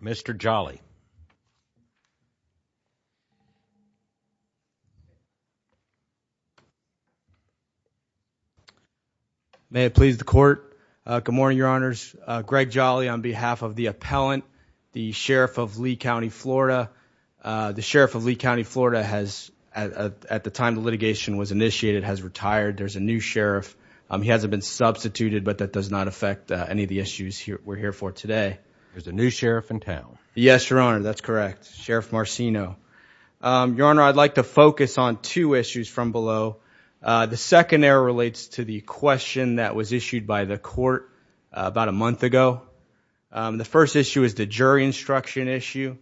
one. May it please the court, good morning, your honors, Greg Jolly on behalf of the appellant, the sheriff of Lee County, Florida. The sheriff of Lee County, Florida has at the time the litigation was initiated has retired. There's a new sheriff. He hasn't been substituted, but that does not affect any of the issues we're here for today. There's a new sheriff in town. Yes, your honor. That's correct. Sheriff Marcino. Your honor, I'd like to focus on two issues from below. The second error relates to the question that was issued by the court about a month ago. The first issue is the jury instruction issue.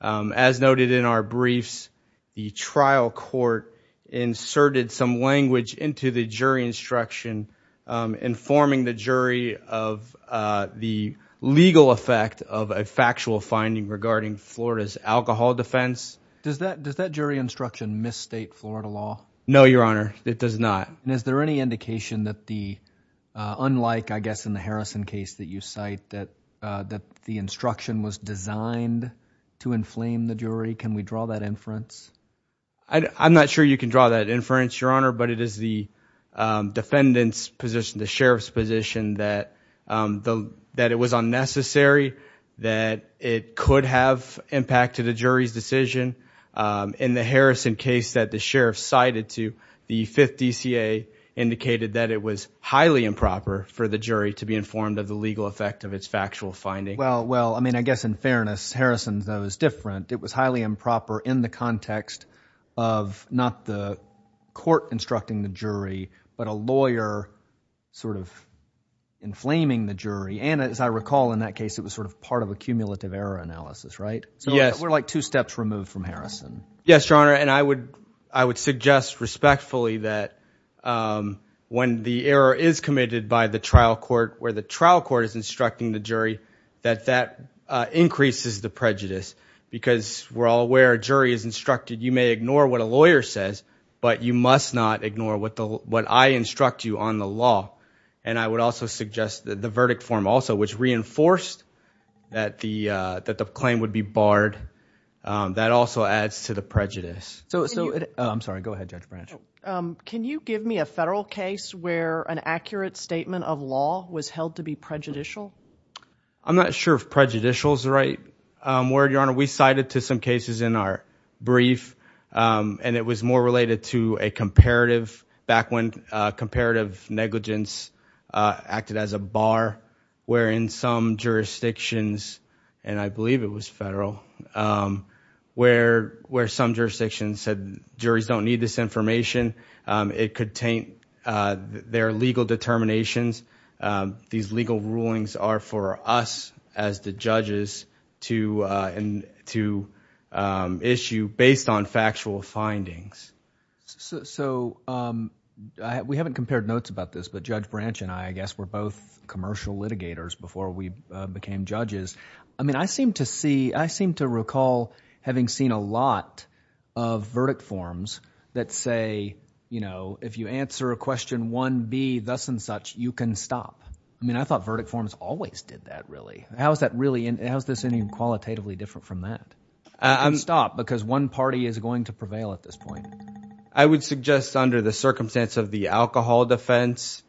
As noted in our briefs, the trial court inserted some language into the jury instruction informing the jury of, uh, the legal effect of a factual finding regarding Florida's alcohol defense. Does that, does that jury instruction misstate Florida law? No, your honor, it does not. And is there any indication that the, uh, unlike, I guess in the Harrison case that you cite that, uh, that the instruction was designed to inflame the jury? Can we draw that inference? I'm not sure you can draw that inference, your honor, but it is the, um, defendant's position, the sheriff's position that, um, the, that it was unnecessary, that it could have impacted the jury's decision. Um, in the Harrison case that the sheriff cited to the fifth DCA indicated that it was highly improper for the jury to be informed of the legal effect of its factual finding. Well, well, I mean, I guess in fairness, Harrison's though is different. It was highly improper in the context of not the court instructing the jury, but a lawyer sort of inflaming the jury. And as I recall in that case, it was sort of part of a cumulative error analysis, right? So we're like two steps removed from Harrison. Yes, your honor. And I would, I would suggest respectfully that, um, when the error is committed by the trial court where the trial court is instructing the jury, that that, uh, increases the prejudice because we're all aware a jury is instructed. You may ignore what a lawyer says, but you must not ignore what the, what I instruct you on the law. And I would also suggest that the verdict form also, which reinforced that the, uh, that the claim would be barred, um, that also adds to the prejudice. So, so, I'm sorry, go ahead, Judge Branch. Um, can you give me a federal case where an accurate statement of law was held to be prejudicial? I'm not sure if prejudicial is the right, um, word, your honor. We cited to some cases in our brief, um, and it was more related to a comparative back when, uh, comparative negligence, uh, acted as a bar where in some jurisdictions, and I believe it was federal, um, where, where some jurisdictions said, juries don't need this information. Um, it could taint, uh, their legal determinations. Um, these legal rulings are for us as the judges to, uh, and to, um, issue based on factual findings. So, so, um, I, we haven't compared notes about this, but Judge Branch and I, I guess we're both commercial litigators before we, uh, became judges. I mean, I seem to see, I seem to recall having seen a lot of verdict forms that say, you know, if you answer a question 1B, thus and such, you can stop. I mean, I thought verdict forms always did that, really. How is that really, how is this any qualitatively different from that? You can stop because one party is going to prevail at this point. I would suggest under the circumstance of the alcohol defense,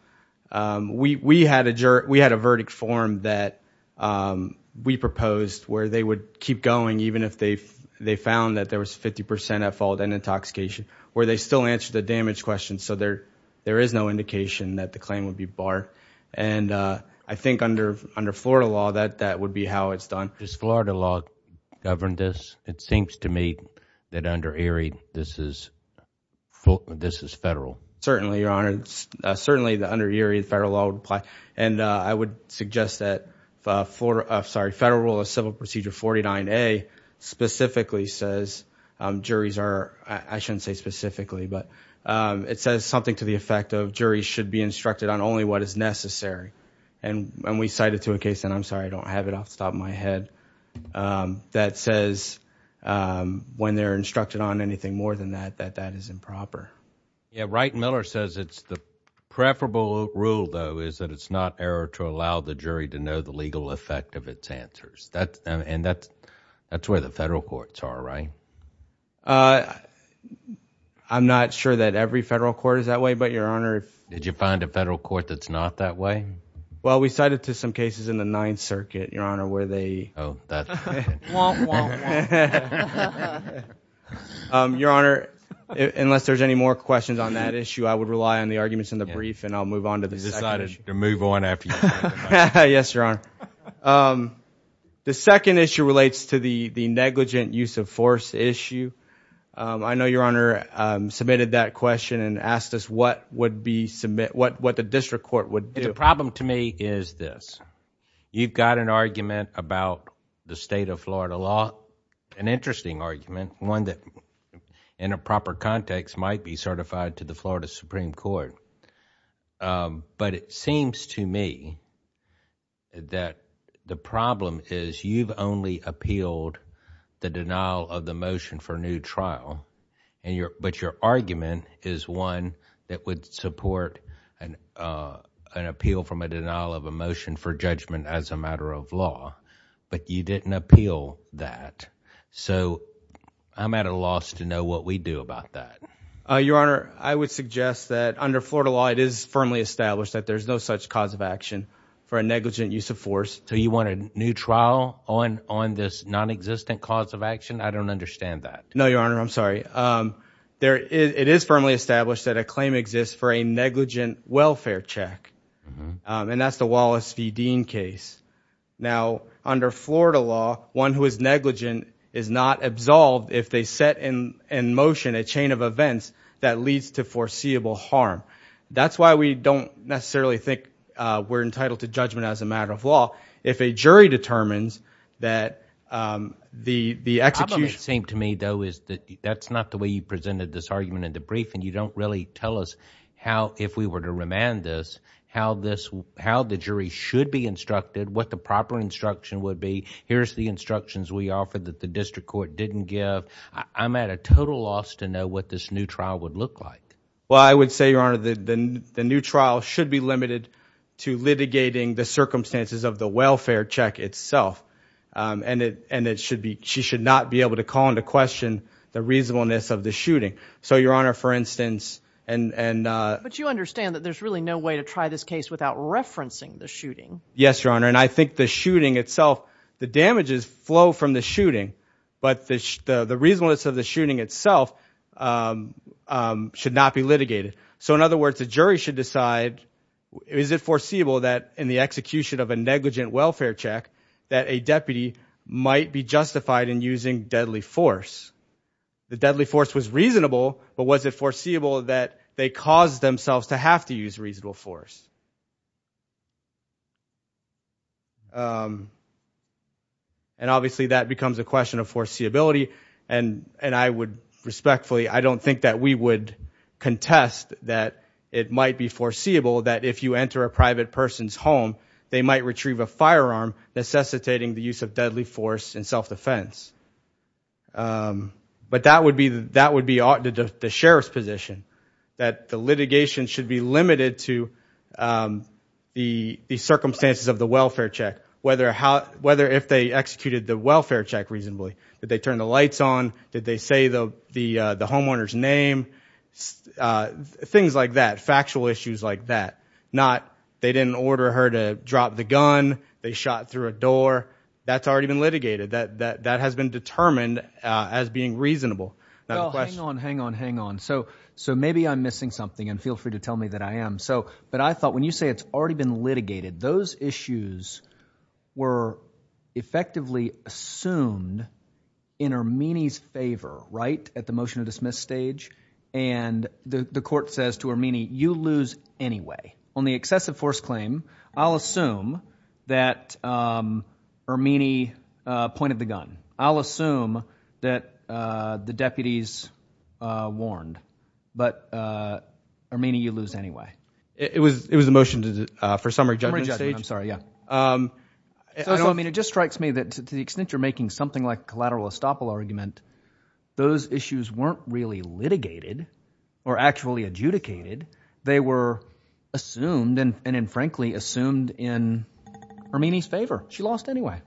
um, we, we had a jury, we had a verdict form that, um, we proposed where they would keep going even if they, they found that there was 50% at fault and intoxication, where they still answered the damage question. So there, there is no indication that the claim would be barred. And, uh, I think under, under Florida law, that, that would be how it's done. Does Florida law govern this? It seems to me that under Erie, this is, this is federal. Certainly, Your Honor, certainly under Erie, the federal law would apply. And I would suggest that for, sorry, federal rule of civil procedure 49A specifically says, um, juries are, I shouldn't say specifically, but, um, it says something to the effect of juries should be instructed on only what is necessary. And when we cited to a case, and I'm sorry, I don't have it off the top of my head, um, that says, um, when they're instructed on anything more than that, that that is improper. Yeah. Right. Miller says it's the preferable rule though, is that it's not error to allow the jury to know the legal effect of its answers. That's and that's, that's where the federal courts are, right? Uh, I'm not sure that every federal court is that way, but Your Honor, did you find a federal court that's not that way? Well, we cited to some cases in the Ninth Circuit, Your Honor, where they, um, Your Honor, unless there's any more questions on that issue, I would rely on the arguments in the brief and I'll move on to the side of the move on after you, yes, Your Honor. Um, the second issue relates to the, the negligent use of force issue. Um, I know Your Honor, um, submitted that question and asked us what would be submit, what, what the district court would do. The problem to me is this, you've got an argument about the state of Florida law, an interesting argument, one that in a proper context might be certified to the Florida Supreme Court. Um, but it seems to me that the problem is you've only appealed the denial of the motion for new trial and your, but your argument is one that would support an, uh, an appeal from a denial of a motion for judgment as a matter of law, but you didn't appeal that. So I'm at a loss to know what we do about that. Uh, Your Honor, I would suggest that under Florida law, it is firmly established that there's no such cause of action for a negligent use of force. So you want a new trial on, on this non-existent cause of action? I don't understand that. No, Your Honor. I'm sorry. Um, there is, it is firmly established that a claim exists for a negligent welfare check. Um, and that's the Wallace v. Dean case. Now under Florida law, one who is negligent is not absolved if they set in, in motion a chain of events that leads to foreseeable harm. That's why we don't necessarily think, uh, we're entitled to judgment as a matter of law. If a jury determines that, um, the, the execution. The problem it seems to me though, is that that's not the way you presented this argument in the brief and you don't really tell us how, if we were to remand this, how this, how the jury should be instructed, what the proper instruction would be, here's the instructions we offer that the district court didn't give. I'm at a total loss to know what this new trial would look like. Well, I would say, Your Honor, the, the, the new trial should be limited to litigating the circumstances of the welfare check itself. Um, and it, and it should be, she should not be able to call into question the reasonableness of the shooting. So, Your Honor, for instance, and, and, uh. But you understand that there's really no way to try this case without referencing the shooting. Yes, Your Honor. And I think the shooting itself, the damages flow from the shooting, but the, the reasonableness of the shooting itself, um, um, should not be litigated. So in other words, the jury should decide, is it foreseeable that in the execution of a negligent welfare check, that a deputy might be justified in using deadly force? The deadly force was reasonable, but was it foreseeable that they caused themselves to have to use reasonable force? Um, and obviously that becomes a question of foreseeability. And, and I would respectfully, I don't think that we would contest that it might be foreseeable that if you enter a private person's home, they might retrieve a firearm necessitating the use of deadly force in self-defense. Um, but that would be, that would be ought to the sheriff's position, that the litigation should be limited to, um, the, the circumstances of the welfare check, whether how, whether if they executed the welfare check reasonably, did they turn the lights on? Did they say the, the, uh, the homeowner's name, uh, things like that, factual issues like that, not they didn't order her to drop the gun. They shot through a door that's already been litigated that, that, that has been determined as being reasonable. Hang on, hang on, hang on. So, so maybe I'm missing something and feel free to tell me that I am so, but I thought when you say it's already been litigated, those issues were effectively assumed in Ermini's favor, right? At the motion to dismiss stage and the court says to Ermini, you lose anyway on the excessive force claim. I'll assume that, um, Ermini, uh, pointed the gun. I'll assume that, uh, the deputies, uh, warned, but, uh, Ermini, you lose anyway. It was, it was a motion to, uh, for summary judgment stage. I'm sorry. Yeah. Um, I don't mean, it just strikes me that to the extent you're making something like collateral estoppel argument, those issues weren't really litigated or actually adjudicated. They were assumed and, and, and frankly assumed in Ermini's favor. She lost anyway.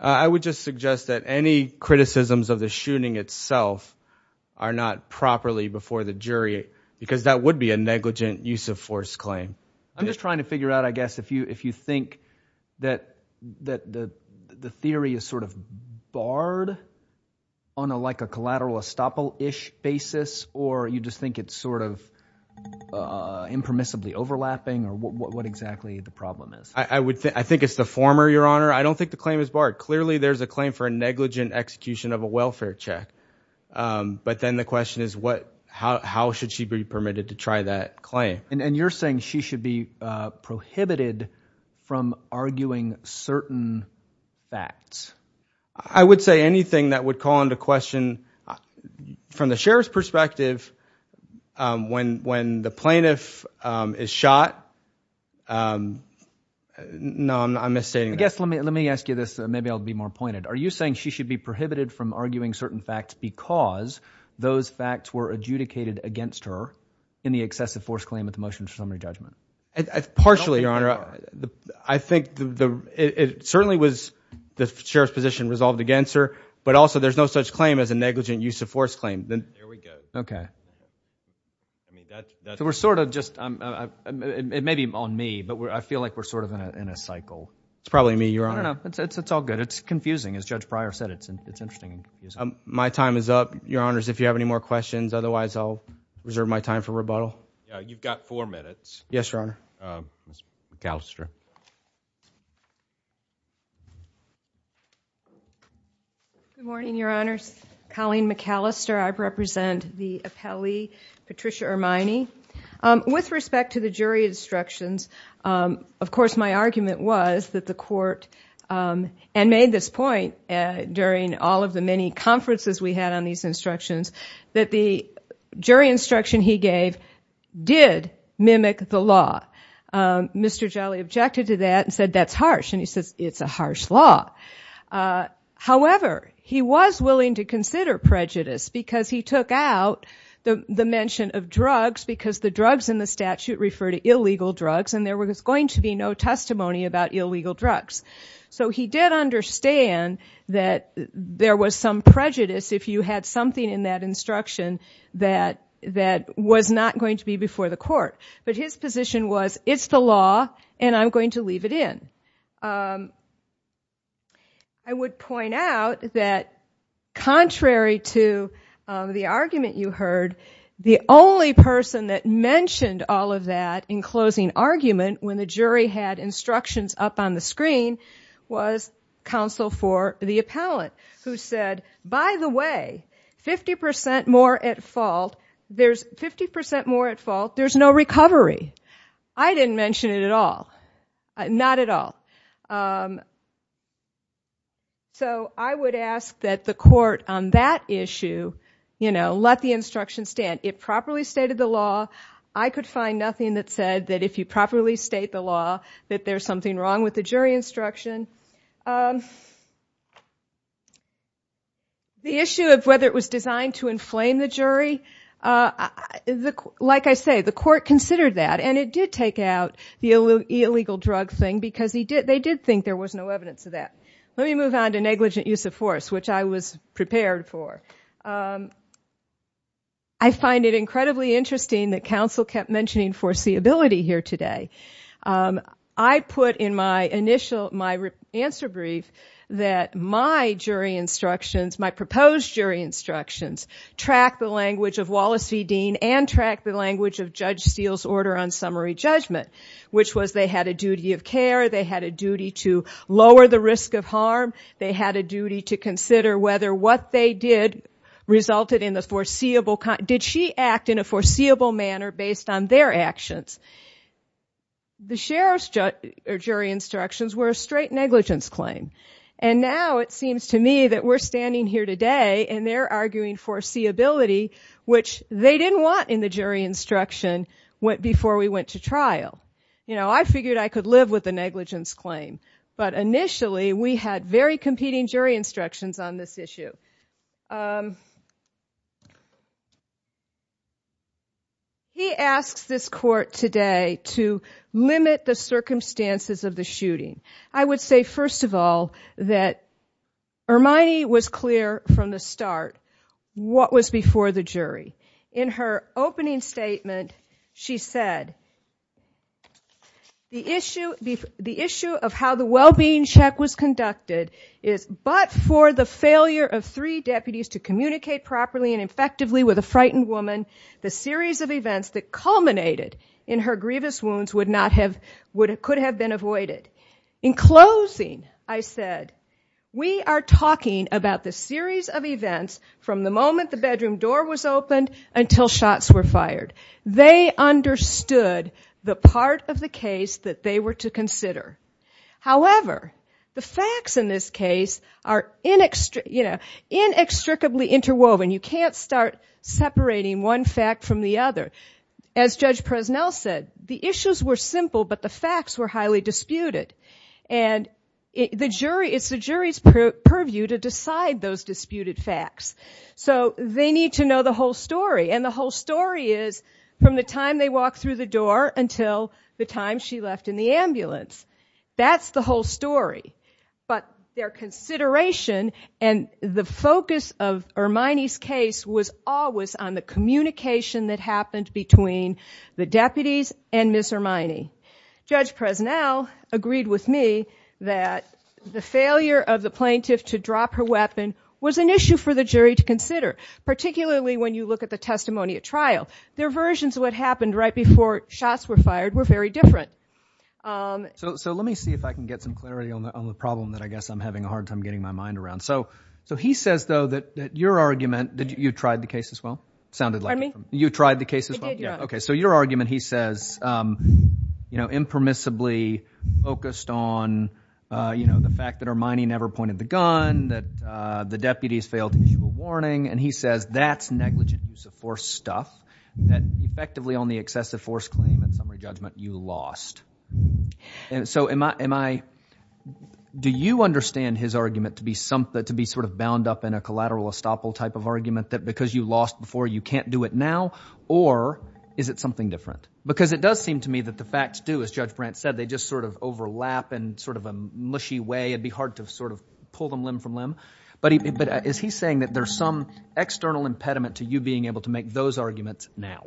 I would just suggest that any criticisms of the shooting itself are not properly before the jury because that would be a negligent use of force claim. I'm just trying to figure out, I guess, if you, if you think that, that the, the theory is sort of barred on a, like a collateral estoppel-ish basis, or you just think it's sort of, uh, impermissibly overlapping or what, what exactly the problem is? I would think, I think it's the former, your honor. I don't think the claim is barred. Clearly there's a claim for a negligent execution of a welfare check. Um, but then the question is what, how, how should she be permitted to try that claim? And you're saying she should be, uh, prohibited from arguing certain facts. I would say anything that would call into question, from the sheriff's perspective, um, when, when the plaintiff, um, is shot, um, no, I'm, I'm misstating that. I guess, let me, let me ask you this, maybe I'll be more pointed. Are you saying she should be prohibited from arguing certain facts because those facts were adjudicated against her in the excessive force claim at the motion for summary judgment? Partially, your honor. I think the, the, it certainly was the sheriff's position resolved against her, but also there's no such claim as a negligent use of force claim. There we go. Okay. I mean, that, that. So we're sort of just, um, uh, it may be on me, but I feel like we're sort of in a, in a cycle. It's probably me, your honor. I don't know. It's, it's, it's all good. It's confusing. As Judge Pryor said, it's, it's interesting. My time is up, your honors. If you have any more questions, otherwise I'll reserve my time for rebuttal. You've got four minutes. Yes, your honor. Ms. McAllister. Good morning, your honors. Colleen McAllister. I represent the appellee, Patricia Ermine. Um, with respect to the jury instructions, um, of course, my argument was that the court, um, and made this point, uh, during all of the many conferences we had on these instructions that the jury instruction he gave did mimic the law. Um, Mr. Jolly objected to that and said, that's harsh. And he says, it's a harsh law. Uh, however, he was willing to consider prejudice because he took out the, the mention of drugs because the drugs in the statute refer to illegal drugs and there was going to be no So he did understand that there was some prejudice if you had something in that instruction that, that was not going to be before the court, but his position was it's the law and I'm going to leave it in. Um, I would point out that contrary to the argument you heard, the only person that mentioned all of that in closing argument when the jury had instructions up on the screen was counsel for the appellate who said, by the way, 50% more at fault, there's 50% more at fault. There's no recovery. I didn't mention it at all. Not at all. Um, so I would ask that the court on that issue, you know, let the instruction stand. It properly stated the law. I could find nothing that said that if you properly state the law, that there's something wrong with the jury instruction. Um, the issue of whether it was designed to inflame the jury, uh, like I say, the court considered that and it did take out the illegal drug thing because he did, they did think there was no evidence of that. Let me move on to negligent use of force, which I was prepared for. Um, I find it incredibly interesting that counsel kept mentioning foreseeability here today. Um, I put in my initial, my answer brief that my jury instructions, my proposed jury instructions track the language of Wallace v. Dean and track the language of Judge Steele's order on summary judgment, which was they had a duty of care. They had a duty to lower the risk of harm. They had a duty to consider whether what they did resulted in the foreseeable. Did she act in a foreseeable manner based on their actions? The sheriff's judge or jury instructions were a straight negligence claim. And now it seems to me that we're standing here today and they're arguing foreseeability, which they didn't want in the jury instruction went before we went to trial. You know, I figured I could live with the negligence claim. But initially we had very competing jury instructions on this issue. He asks this court today to limit the circumstances of the shooting. I would say, first of all, that Hermione was clear from the start what was before the jury. In her opening statement, she said, the issue of how the well-being check was conducted is but for the failure of three deputies to communicate properly and effectively with a frightened woman, the series of events that culminated in her grievous wounds would not have, would have, could have been avoided. In closing, I said, we are talking about the series of events from the moment the bedroom door was opened until shots were fired. They understood the part of the case that they were to consider. However, the facts in this case are inextricably interwoven. You can't start separating one fact from the other. As Judge Presnell said, the issues were simple, but the facts were highly disputed. And the jury, it's the jury's purview to decide those disputed facts. So they need to know the whole story. And the whole story is from the time they walked through the door until the time she left in the ambulance. That's the whole story. But their consideration and the focus of Hermione's case was always on the communication that happened between the deputies and Ms. Hermione. Judge Presnell agreed with me that the failure of the plaintiff to drop her weapon was an issue for the jury to consider, particularly when you look at the testimony at trial. Their versions of what happened right before shots were fired were very different. So let me see if I can get some clarity on the problem that I guess I'm having a hard time getting my mind around. So he says though that your argument, you tried the case as well? Sounded like it. Pardon me? You tried the case as well? I did, yeah. Okay, so your argument, he says, impermissibly focused on the fact that Hermione never pointed the gun, that the deputies failed to issue a warning. And he says that's negligent use of force stuff, that effectively on the excessive force claim and summary judgment, you lost. And so do you understand his argument to be sort of bound up in a collateral estoppel type of argument, that because you lost before, you can't do it now? Or is it something different? Because it does seem to me that the facts do, as Judge Brandt said, they just sort of overlap in sort of a mushy way. It'd be hard to sort of pull them limb from limb. But is he saying that there's some external impediment to you being able to make those arguments now?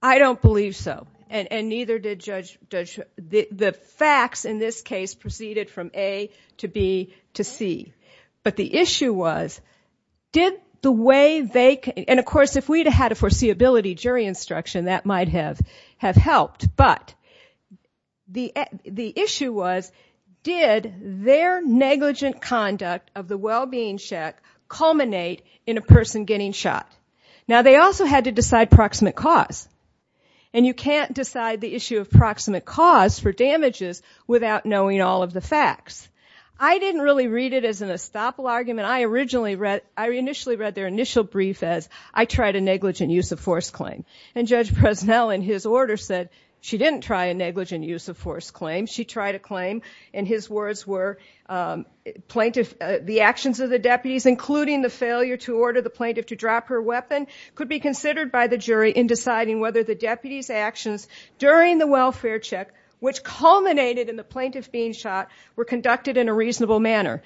I don't believe so. And neither did Judge, the facts in this case proceeded from A to B to C. But the issue was, did the way they, and of course, if we'd had a foreseeability jury instruction, that might have helped. But the issue was, did their negligent conduct of the well-being check culminate in a person getting shot? Now, they also had to decide proximate cause. And you can't decide the issue of proximate cause for damages without knowing all of the facts. I didn't really read it as an estoppel argument. I originally read, I initially read their initial brief as, I tried a negligent use of force claim. And Judge Bresnell, in his order, said she didn't try a negligent use of force claim. She tried a claim, and his words were, the actions of the deputies, including the failure to order the plaintiff to drop her weapon, could be considered by the jury in deciding whether the deputy's actions during the welfare check, which culminated in the plaintiff being shot, were conducted in a reasonable manner.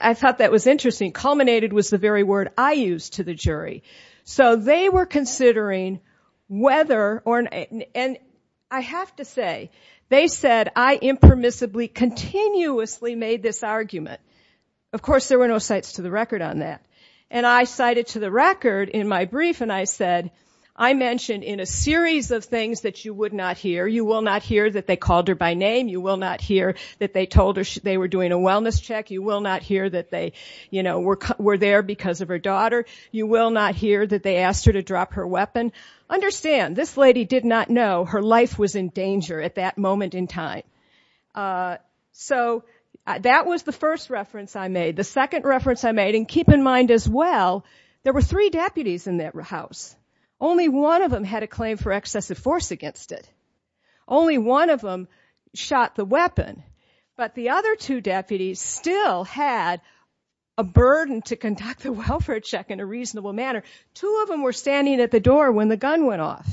I thought that was interesting. Culminated was the very word I used to the jury. So they were considering whether, and I have to say, they said I impermissibly, continuously made this argument. Of course, there were no cites to the record on that. And I cited to the record in my brief, and I said, I mentioned in a series of things that you would not hear. You will not hear that they called her by name. You will not hear that they told her they were doing a wellness check. You will not hear that they were there because of her daughter. You will not hear that they asked her to drop her weapon. Understand, this lady did not know her life was in danger at that moment in time. So that was the first reference I made. The second reference I made, and keep in mind as well, there were three deputies in that house. Only one of them had a claim for excessive force against it. Only one of them shot the weapon. But the other two deputies still had a burden to conduct the welfare check in a reasonable manner. Two of them were standing at the door when the gun went off.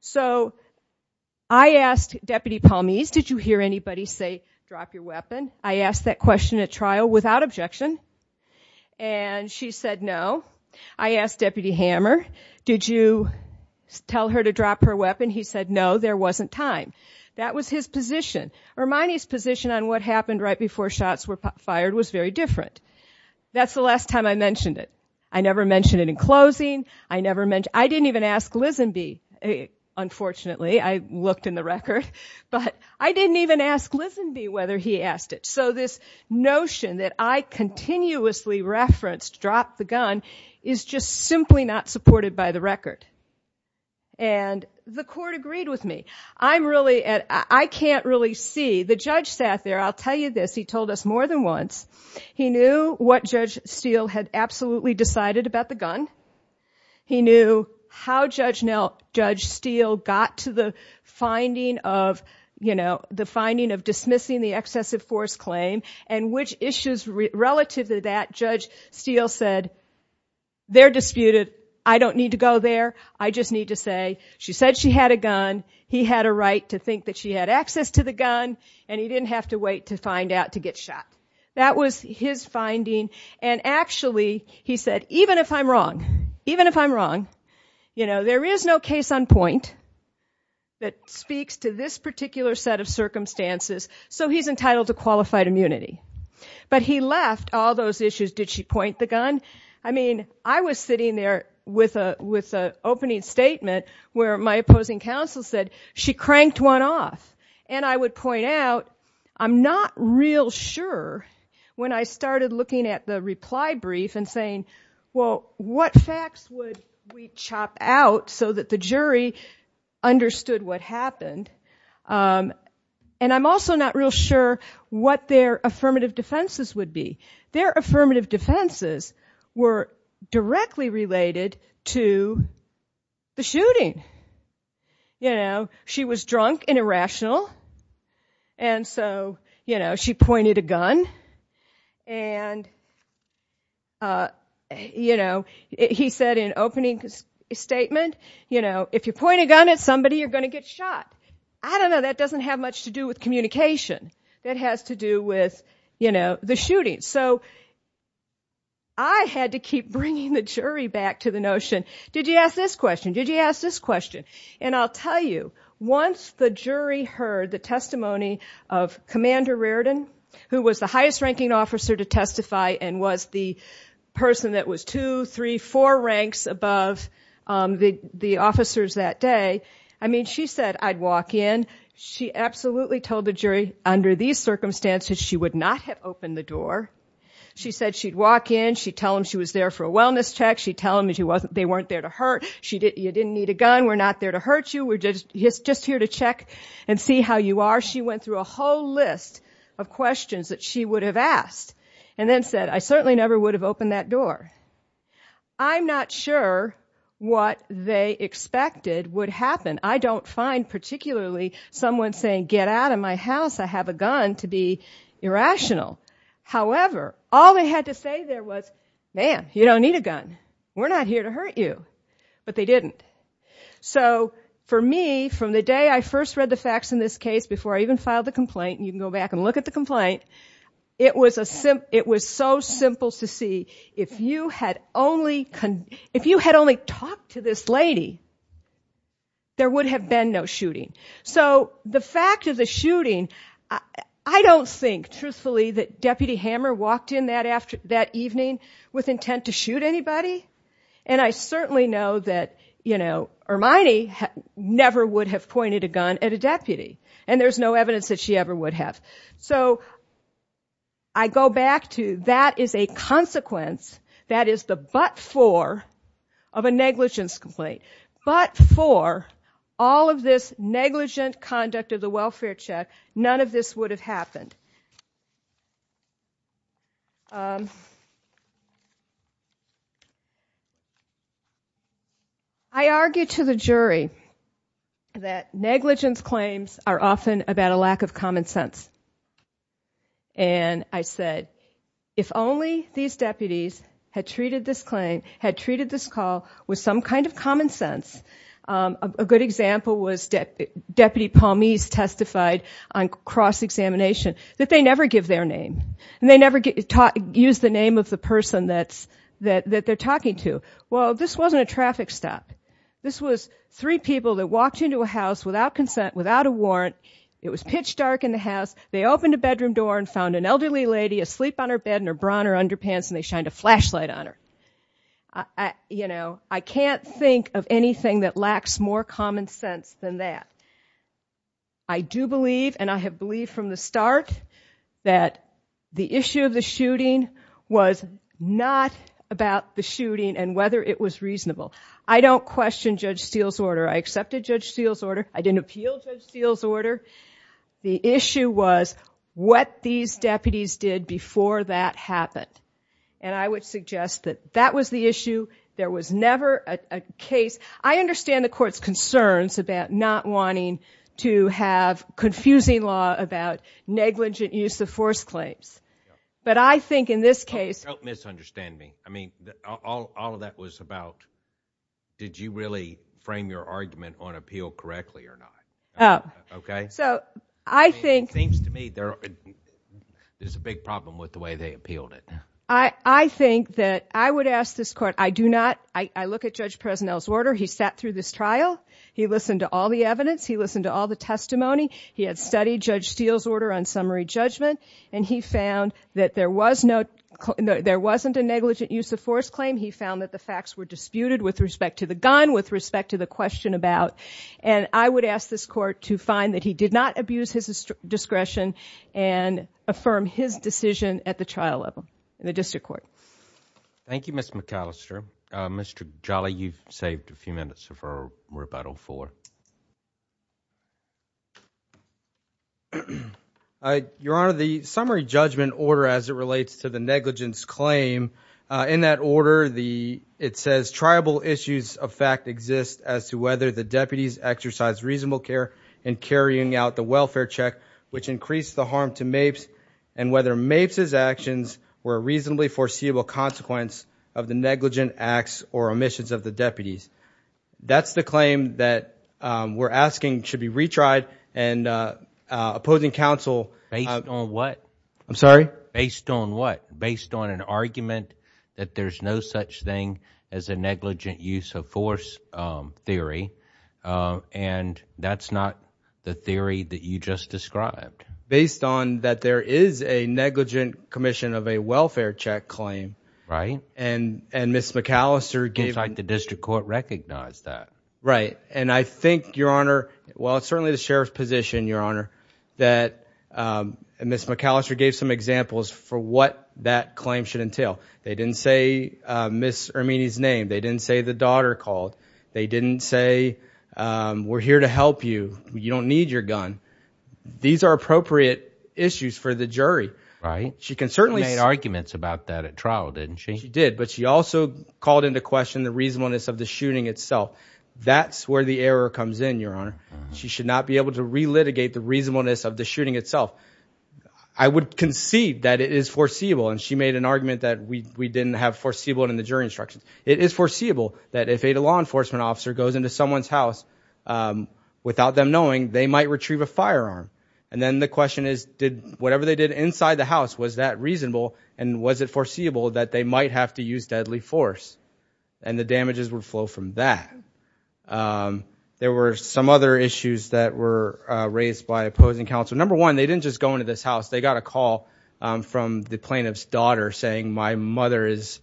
So I asked Deputy Palmese, did you hear anybody say, drop your weapon? I asked that question at trial without objection, and she said no. I asked Deputy Hammer, did you tell her to drop her weapon? He said no, there wasn't time. That was his position. Hermione's position on what happened right before shots were fired was very different. That's the last time I mentioned it. I never mentioned it in closing. I didn't even ask Lisenby, unfortunately, I looked in the record. But I didn't even ask Lisenby whether he asked it. So this notion that I continuously referenced, drop the gun, is just simply not supported by the record. And the court agreed with me. I'm really at, I can't really see. The judge sat there, I'll tell you this, he told us more than once. He knew what Judge Steele had absolutely decided about the gun. He knew how Judge Steele got to the finding of, you know, the finding of dismissing the excessive force claim. And which issues relative to that, Judge Steele said, they're disputed. I don't need to go there. I just need to say, she said she had a gun. He had a right to think that she had access to the gun. And he didn't have to wait to find out to get shot. That was his finding. And actually, he said, even if I'm wrong, even if I'm wrong, you know, there is no case on point that speaks to this particular set of circumstances, so he's entitled to qualified immunity. But he left all those issues. Did she point the gun? I mean, I was sitting there with an opening statement where my opposing counsel said, she cranked one off. And I would point out, I'm not real sure when I started looking at the reply brief and saying, well, what facts would we chop out so that the jury understood what happened? And I'm also not real sure what their affirmative defenses would be. Their affirmative defenses were directly related to the shooting. You know, she was drunk and irrational. And so, you know, she pointed a gun. And, you know, he said in opening statement, you know, if you point a gun at somebody, you're gonna get shot. I don't know, that doesn't have much to do with communication. That has to do with, you know, the shooting. So I had to keep bringing the jury back to the notion, did you ask this question? Did you ask this question? And I'll tell you, once the jury heard the testimony of Commander Reardon, who was the highest ranking officer to testify and was the person that was two, three, four ranks above the officers that day. I mean, she said, I'd walk in. She absolutely told the jury, under these circumstances, she would not have opened the door. She said she'd walk in. She'd tell them she was there for a wellness check. She'd tell them they weren't there to hurt. You didn't need a gun. We're not there to hurt you. We're just here to check and see how you are. She went through a whole list of questions that she would have asked. And then said, I certainly never would have opened that door. I'm not sure what they expected would happen. I don't find particularly someone saying, get out of my house. I have a gun, to be irrational. However, all they had to say there was, ma'am, you don't need a gun. We're not here to hurt you. But they didn't. So for me, from the day I first read the facts in this case, before I even filed the complaint, you can go back and look at the complaint, it was so simple to see, if you had only talked to this lady, there would have been no shooting. So the fact of the shooting, I don't think, truthfully, that Deputy Hammer walked in that evening with intent to shoot anybody. And I certainly know that Hermione never would have pointed a gun at a deputy. And there's no evidence that she ever would have. So I go back to, that is a consequence. That is the but for of a negligence complaint. But for all of this negligent conduct of the welfare check, none of this would have happened. I argue to the jury that negligence claims are often about a lack of common sense. And I said, if only these deputies had treated this claim, had treated this common sense, a good example was Deputy Palmese testified on cross-examination. That they never give their name, and they never use the name of the person that they're talking to. Well, this wasn't a traffic stop. This was three people that walked into a house without consent, without a warrant. It was pitch dark in the house. They opened a bedroom door and found an elderly lady asleep on her bed in her bra and her underpants, and they shined a flashlight on her. I can't think of anything that lacks more common sense than that. I do believe, and I have believed from the start, that the issue of the shooting was not about the shooting and whether it was reasonable. I don't question Judge Steele's order. I accepted Judge Steele's order. I didn't appeal Judge Steele's order. The issue was what these deputies did before that happened. And I would suggest that that was the issue. There was never a case. I understand the court's concerns about not wanting to have confusing law about negligent use of force claims. But I think in this case- Don't misunderstand me. I mean, all of that was about did you really frame your argument on appeal correctly or not, okay? So, I think- I think that I would ask this court, I do not- I look at Judge Presnell's order. He sat through this trial. He listened to all the evidence. He listened to all the testimony. He had studied Judge Steele's order on summary judgment. And he found that there wasn't a negligent use of force claim. He found that the facts were disputed with respect to the gun, with respect to the question about. And I would ask this court to find that he did not abuse his discretion and affirm his decision at the trial level. In the district court. Thank you, Ms. McAllister. Mr. Jolly, you've saved a few minutes of our rebuttal for. Your Honor, the summary judgment order as it relates to the negligence claim. In that order, it says tribal issues of fact exist as to whether the deputies exercise reasonable care in carrying out the welfare check, which increase the harm to MAPES, and whether MAPES's actions were a reasonably foreseeable consequence of the negligent acts or omissions of the deputies. That's the claim that we're asking should be retried and opposing counsel. Based on what? I'm sorry? Based on what? Based on an argument that there's no such thing as a negligent use of force theory. And that's not the theory that you just described. Based on that there is a negligent commission of a welfare check claim. Right. And Ms. McAllister gave- It seems like the district court recognized that. Right. And I think, Your Honor, while it's certainly the sheriff's position, Your Honor, that Ms. McAllister gave some examples for what that claim should entail. They didn't say Ms. Ermini's name. They didn't say the daughter called. They didn't say, we're here to help you. You don't need your gun. These are appropriate issues for the jury. Right. She can certainly- She made arguments about that at trial, didn't she? She did. But she also called into question the reasonableness of the shooting itself. That's where the error comes in, Your Honor. She should not be able to relitigate the reasonableness of the shooting itself. I would concede that it is foreseeable, and she made an argument that we didn't have foreseeable in the jury instructions. It is foreseeable that if a law enforcement officer goes into someone's They might retrieve a firearm. And then the question is, did whatever they did inside the house, was that reasonable, and was it foreseeable that they might have to use deadly force? And the damages would flow from that. There were some other issues that were raised by opposing counsel. Number one, they didn't just go into this house. They got a call from the plaintiff's daughter saying, my mother is,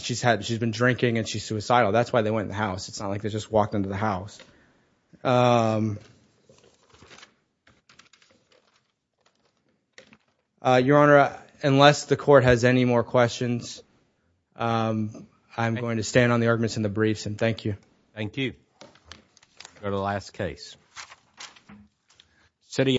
she's been drinking and she's suicidal. That's why they went in the house. It's not like they just walked into the house. Your Honor, unless the court has any more questions, I'm going to stand on the arguments in the briefs, and thank you. Thank you. Go to the last case. Sitting